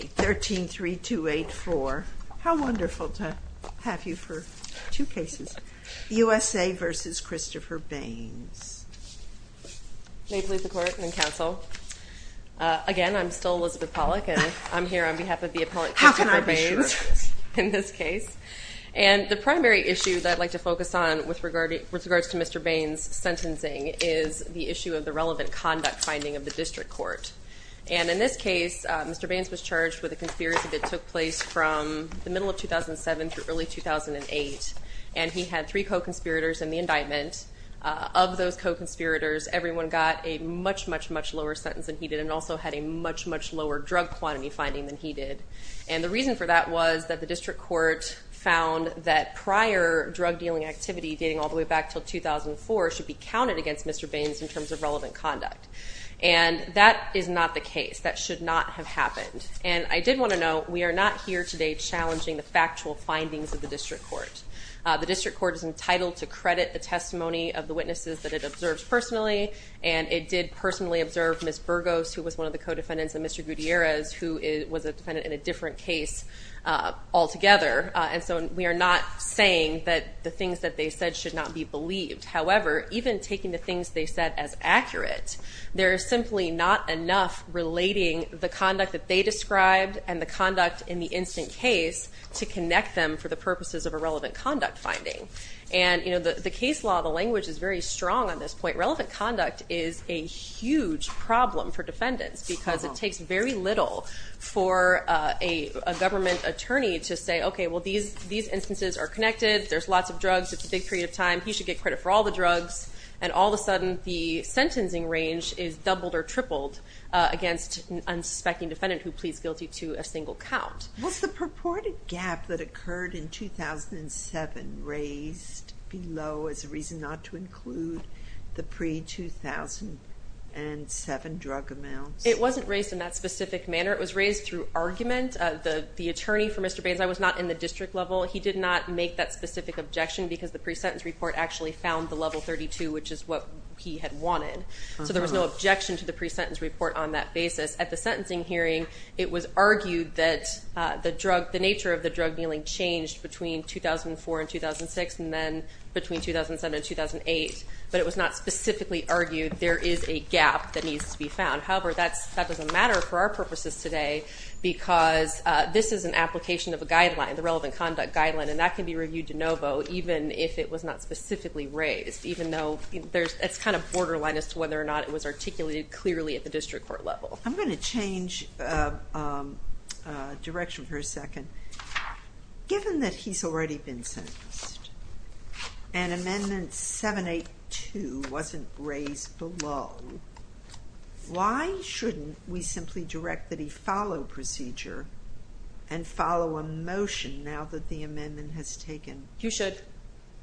13-3284. How wonderful to have you for two cases, USA v. Christopher Baines. May it please the Court and the Council? Again, I'm still Elizabeth Pollack, and I'm here on behalf of the appellant Christopher Baines in this case. And the primary issue that I'd like to focus on with regards to Mr. Baines's sentencing is the issue of the relevant conduct finding of the district court. And in this case, Mr. Baines was charged with a conspiracy that took place from the middle of 2007 through early 2008. And he had three co-conspirators in the indictment. Of those co-conspirators, everyone got a much, much, much lower sentence than he did and also had a much, much lower drug quantity finding than he did. And the reason for that was that the district court found that prior drug dealing activity dating all the way back until 2004 should be counted against Mr. Baines in terms of relevant conduct. And that is not the case. That should not have happened. And I did want to note, we are not here today challenging the factual findings of the district court. The district court is entitled to credit the testimony of the witnesses that it observes personally, and it did personally observe Ms. Burgos, who was one of the co-defendants, and Mr. Gutierrez, who was a defendant in a different case altogether. And so we are not saying that the things that they said should not be believed. However, even taking the things they said as accurate, there is simply not enough relating the conduct that they described and the conduct in the instant case to connect them for the purposes of a relevant conduct finding. And, you know, the case law, the language is very strong on this point. Relevant conduct is a huge problem for defendants because it takes very little for a government attorney to say, okay, well, these instances are connected. There's lots of drugs. It's a big period of time. You should get credit for all the drugs. And all of a sudden, the sentencing range is doubled or tripled against an unsuspecting defendant who pleads guilty to a single count. Was the purported gap that occurred in 2007 raised below as a reason not to include the pre-2007 drug amounts? It wasn't raised in that specific manner. It was raised through argument. The attorney for Mr. Baines, I was not in the district level. He did not make that specific objection because the pre-sentence report actually found the level 32, which is what he had wanted. So there was no objection to the pre-sentence report on that basis. At the sentencing hearing, it was argued that the drug, the nature of the drug dealing changed between 2004 and 2006 and then between 2007 and 2008. But it was not specifically argued there is a gap that needs to be found. However, that doesn't matter for our purposes today because this is an application of a guideline, the relevant conduct guideline, and that can be reviewed de novo even if it was not specifically raised, even though it's kind of borderline as to whether or not it was articulated clearly at the district court level. I'm going to change direction for a second. Given that he's already been sentenced and Amendment 782 wasn't raised below, why shouldn't we simply direct that he follow procedure and follow a motion now that the amendment has taken? You should.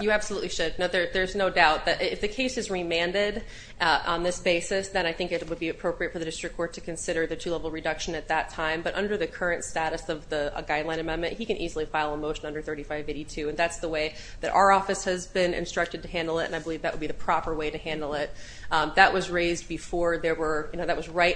You absolutely should. There's no doubt that if the case is remanded on this basis, then I think it would be appropriate for the district court to consider the two-level reduction at that time. But under the current status of a guideline amendment, he can easily file a motion under 3582. And that's the way that our office has been instructed to handle it, and I believe that would be the proper way to handle it. That was right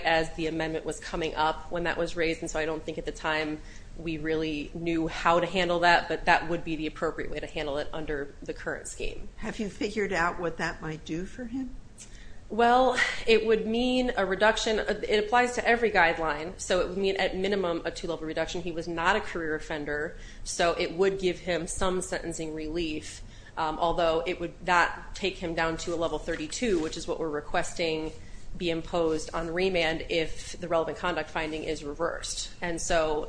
as the amendment was coming up when that was raised. And so I don't think at the time we really knew how to handle that, but that would be the appropriate way to handle it under the current scheme. Have you figured out what that might do for him? Well, it would mean a reduction. It applies to every guideline. So it would mean at minimum a two-level reduction. He was not a career offender. So it would give him some sentencing relief, although it would not take him down to a level 32, which is what we're requesting be imposed on remand if the relevant conduct finding is reversed. And so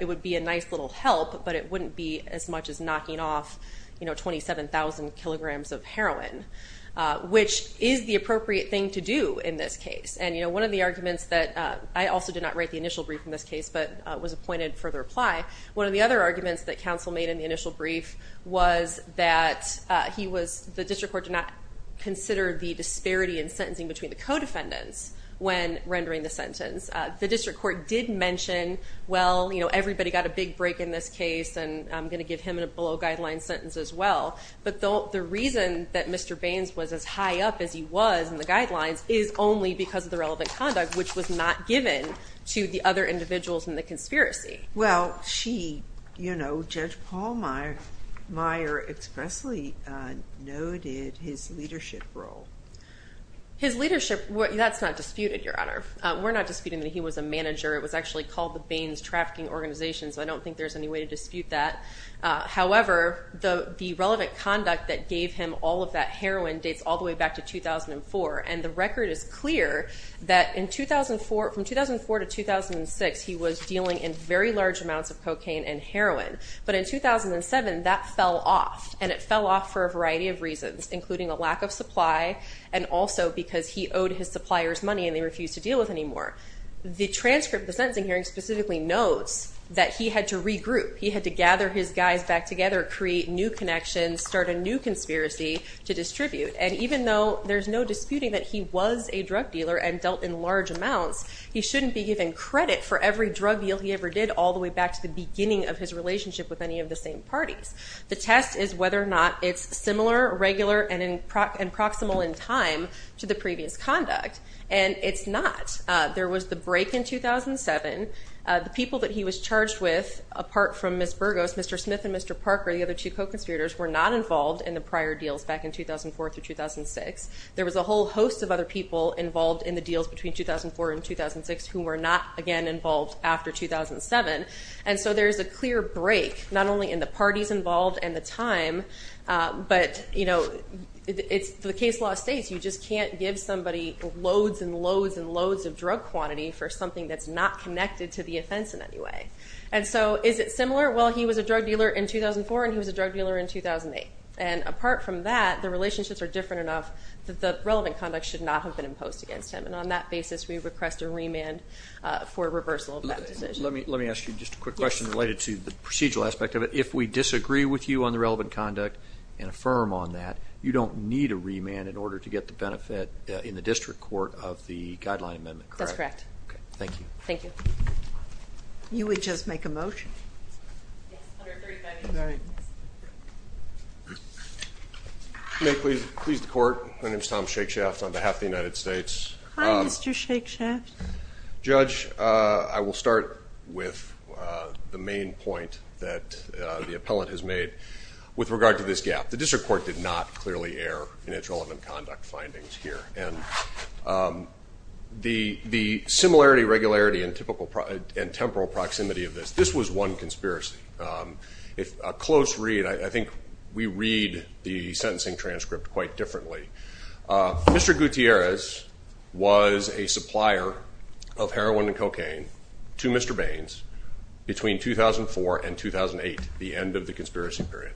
it would be a nice little help, but it wouldn't be as much as knocking off 27,000 kilograms of heroin, which is the appropriate thing to do in this case. And one of the arguments that I also did not write the initial brief in this case, but was appointed for the reply. One of the other arguments that counsel made in the initial brief was that the district court did not consider the disparity in sentencing between the co-defendants when rendering the sentence. The district court did mention, well, everybody got a big break in this case, and I'm going to give him a below-guideline sentence as well. But the reason that Mr. Baines was as high up as he was in the guidelines is only because of the relevant conduct, which was not given to the other individuals in the conspiracy. Judge Paul Meyer expressly noted his leadership role. His leadership, that's not disputed, Your Honor. We're not disputing that he was a manager. It was actually called the Baines Trafficking Organization, so I don't think there's any way to dispute that. However, the relevant conduct that gave him all of that heroin dates all the way back to 2004, and the record is clear that from 2004 to 2006, he was dealing in very large amounts of cocaine and heroin. But in 2007, that fell off, and it fell off for a variety of reasons, including a lack of supply, and also because he owed his suppliers money and they refused to deal with it anymore. The transcript of the sentencing hearing specifically notes that he had to regroup. He had to gather his guys back together, create new connections, start a new conspiracy to distribute. And even though there's no disputing that he was a drug dealer and dealt in large amounts, he shouldn't be given credit for every drug deal he ever did all the way back to the beginning of his relationship with any of the same parties. The test is whether or not it's similar, regular, and proximal in time to the previous conduct, and it's not. There was the break in 2007. The people that he was charged with, apart from Ms. Burgos, Mr. Smith and Mr. Parker, the other two co-conspirators, were not involved in the prior deals back in 2004 through 2006. There was a whole host of other people involved in the deals between 2004 and 2006 who were not, again, involved after 2007. And so there's a clear break, not only in the parties involved and the time, but, you know, the case law states you just can't give somebody loads and loads and loads of drug quantity for something that's not connected to the offense in any way. And so is it similar? Well, he was a drug dealer in 2004 and he was a drug dealer in 2008. And apart from that, the relationships are different enough that the relevant conduct should not have been imposed against him. And on that basis, we request a remand for reversal of that decision. Let me ask you just a quick question related to the procedural aspect of it. If we disagree with you on the relevant conduct and affirm on that, you don't need a remand in order to get the benefit in the district court of the guideline amendment, correct? That's correct. Okay. Thank you. Thank you. You would just make a motion? May it please the court? My name is Tom Shakeshaft on behalf of the United States. Hi, Mr. Shakeshaft. Judge, I will start with the main point that the appellant has made with regard to this gap. The district court did not clearly err in its relevant conduct findings here. And the similarity, regularity, and temporal proximity of this, this was one conspiracy. A close read, I think we read the sentencing transcript quite differently. Mr. Gutierrez was a supplier of heroin and cocaine to Mr. Baines between 2004 and 2008, the end of the conspiracy period.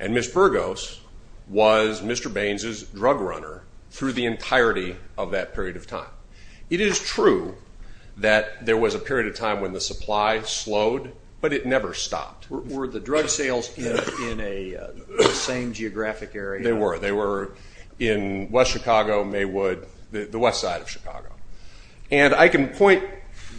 And Ms. Burgos was Mr. Baines's drug runner through the entirety of that period of time. It is true that there was a period of time when the supply slowed, but it never stopped. Were the drug sales in a same geographic area? They were. They were in West Chicago, Maywood, the west side of Chicago. And I can point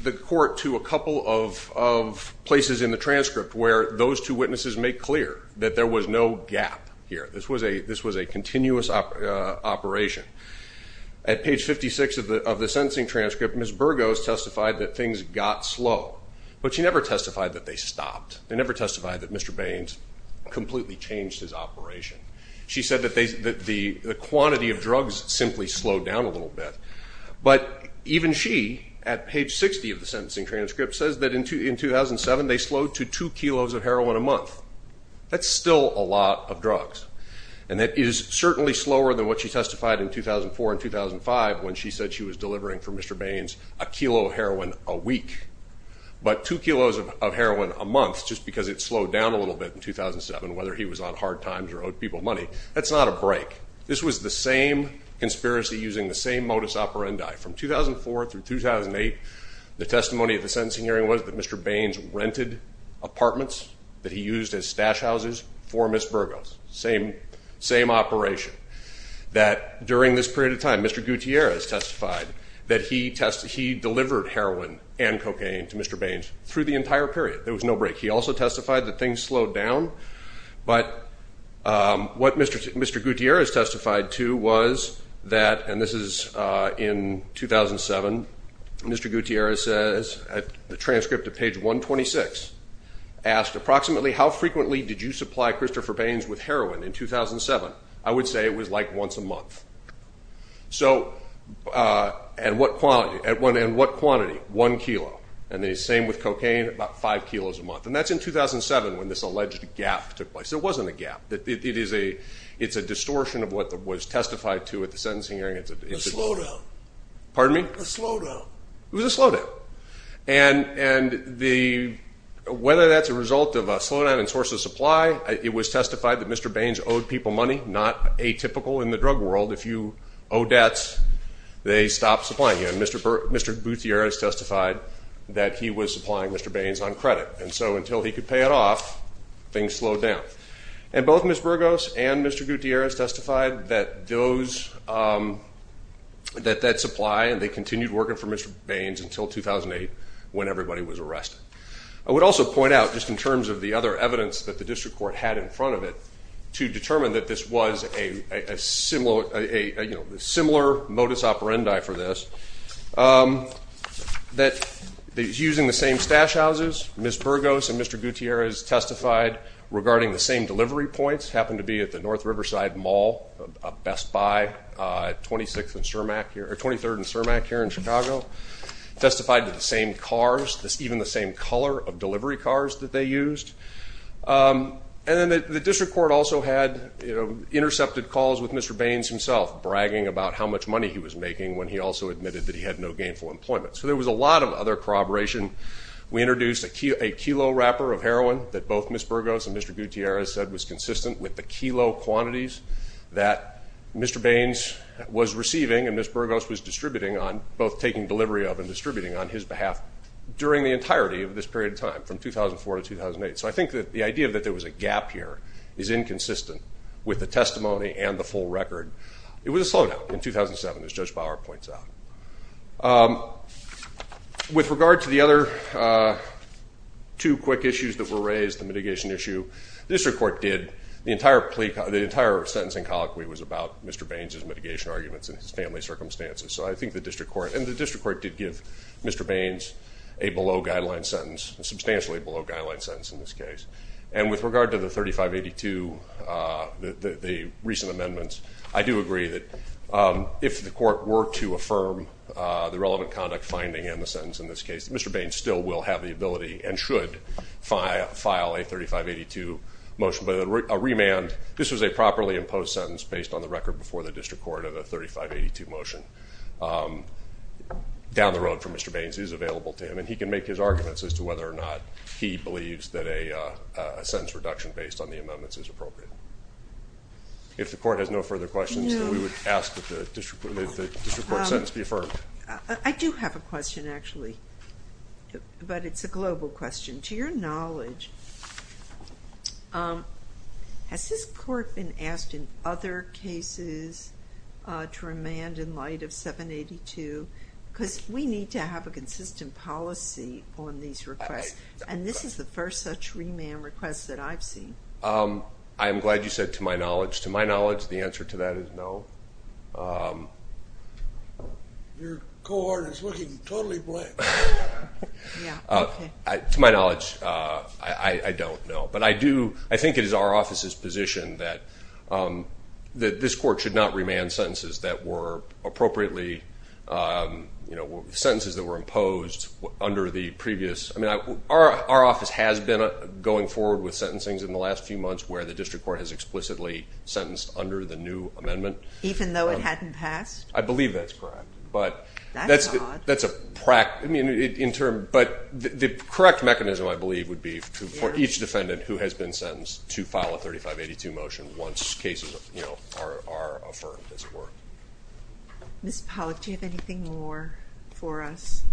the court to a couple of places in the transcript where those two witnesses make clear that there was no gap here. This was a continuous operation. At page 56 of the sentencing transcript, Ms. Burgos testified that things got slow, but she never testified that they stopped. They never testified that Mr. Baines completely changed his operation. She said that the quantity of drugs simply slowed down a little bit. But even she, at page 60 of the sentencing transcript, says that in 2007 they slowed to two kilos of heroin a month. That's still a lot of drugs. And it is certainly slower than what she testified in 2004 and 2005 when she said she was delivering for Mr. Baines a kilo of heroin a week. But two kilos of heroin a month, just because it slowed down a little bit in 2007, whether he was on hard times or owed people money, that's not a break. This was the same conspiracy using the same modus operandi. From 2004 through 2008, the testimony of the sentencing hearing was that Mr. Baines rented apartments that he used as stash houses for Ms. Burgos. Same operation. That during this period of time, Mr. Gutierrez testified that he delivered heroin and cocaine to Mr. Baines through the entire period. There was no break. He also testified that things slowed down. But what Mr. Gutierrez testified to was that, and this is in 2007, Mr. Gutierrez says at the transcript of page 126, asked approximately, how frequently did you supply Christopher Baines with heroin in 2007? I would say it was like once a month. And what quantity? One kilo. And the same with cocaine, about five kilos a month. And that's in 2007 when this alleged gap took place. It wasn't a gap. It's a distortion of what was testified to at the sentencing hearing. A slowdown. Pardon me? A slowdown. It was a slowdown. And whether that's a result of a slowdown in sources of supply, it was testified that Mr. Baines owed people money. Not atypical in the drug world. If you owe debts, they stop supplying you. And Mr. Gutierrez testified that he was supplying Mr. Baines on credit. And so until he could pay it off, things slowed down. And both Ms. Burgos and Mr. Gutierrez testified that those, that that supply, and they continued working for Mr. Baines until 2008 when everybody was arrested. I would also point out, just in terms of the other evidence that the district court had in front of it, to determine that this was a similar modus operandi for this, that using the same stash houses, Ms. Burgos and Mr. Gutierrez testified regarding the same delivery points, happened to be at the North Riverside Mall, a Best Buy, 23rd and Cermak here in Chicago, testified to the same cars, even the same color of delivery cars that they used. And then the district court also had intercepted calls with Mr. Baines himself, bragging about how much money he was making when he also admitted that he had no gainful employment. So there was a lot of other corroboration. We introduced a kilo wrapper of heroin that both Ms. Burgos and Mr. Gutierrez said was consistent with the kilo quantities that Mr. Baines was receiving and Ms. Burgos was distributing on, both taking delivery of and distributing on his behalf during the entirety of this period of time, from 2004 to 2008. So I think that the idea that there was a gap here is inconsistent with the testimony and the full record. It was a slowdown in 2007, as Judge Bauer points out. With regard to the other two quick issues that were raised, the mitigation issue, the district court did the entire sentencing colloquy was about Mr. Baines' mitigation arguments and his family circumstances. So I think the district court and the district court did give Mr. Baines a below-guideline sentence, a substantially below-guideline sentence in this case. And with regard to the 3582, the recent amendments, I do agree that if the court were to affirm the relevant conduct finding in the sentence in this case, Mr. Baines still will have the ability and should file a 3582 motion. But a remand, this was a properly imposed sentence based on the record before the district court of the 3582 motion. Down the road from Mr. Baines, it is available to him, and he can make his arguments as to whether or not he believes that a sentence reduction based on the amendments is appropriate. If the court has no further questions, we would ask that the district court sentence be affirmed. I do have a question, actually, but it's a global question. To your knowledge, has this court been asked in other cases to remand in light of 782? Because we need to have a consistent policy on these requests, and this is the first such remand request that I've seen. I'm glad you said to my knowledge. To my knowledge, the answer to that is no. Your cohort is looking totally blank. To my knowledge, I don't know. But I think it is our office's position that this court should not remand sentences that were appropriately, sentences that were imposed under the previous. I mean, our office has been going forward with sentencings in the last few months where the district court has explicitly sentenced under the new amendment. Even though it hadn't passed? I believe that's correct. That's odd. But the correct mechanism, I believe, would be for each defendant who has been sentenced to file a 3582 motion once cases are affirmed, as it were. Ms. Pollack, do you have anything more for us?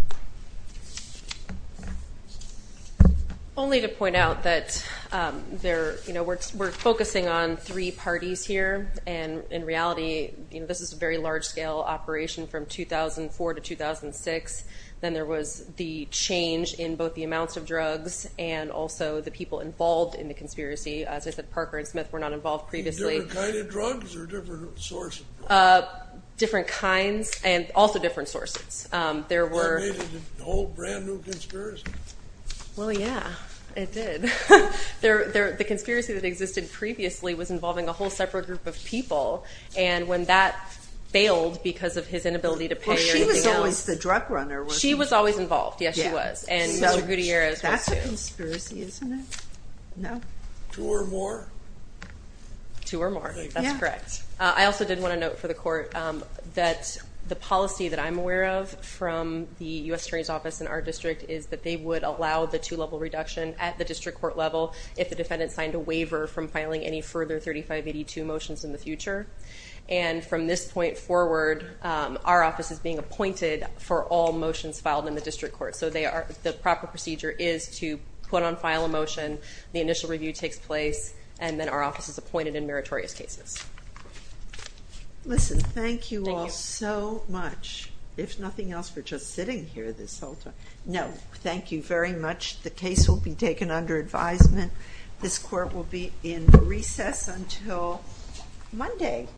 Only to point out that we're focusing on three parties here, and in reality this is a very large-scale operation from 2004 to 2006. Then there was the change in both the amounts of drugs and also the people involved in the conspiracy. As I said, Parker and Smith were not involved previously. Different kind of drugs or different source of drugs? Different kinds and also different sources. They made a whole brand-new conspiracy. Well, yeah, it did. The conspiracy that existed previously was involving a whole separate group of people, and when that failed because of his inability to pay or anything else. Well, she was always the drug runner. She was always involved. Yes, she was, and Mr. Gutierrez was too. That's a conspiracy, isn't it? No. Two or more? Two or more. That's correct. I also did want to note for the court that the policy that I'm aware of from the U.S. Attorney's Office in our district is that they would allow the two-level reduction at the district court level if the defendant signed a waiver from filing any further 3582 motions in the future. And from this point forward, our office is being appointed for all motions filed in the district court. So the proper procedure is to put on file a motion, the initial review takes place, and then our office is appointed in meritorious cases. Listen, thank you all so much, if nothing else, for just sitting here this whole time. No, thank you very much. The case will be taken under advisement. This court will be in recess until Monday.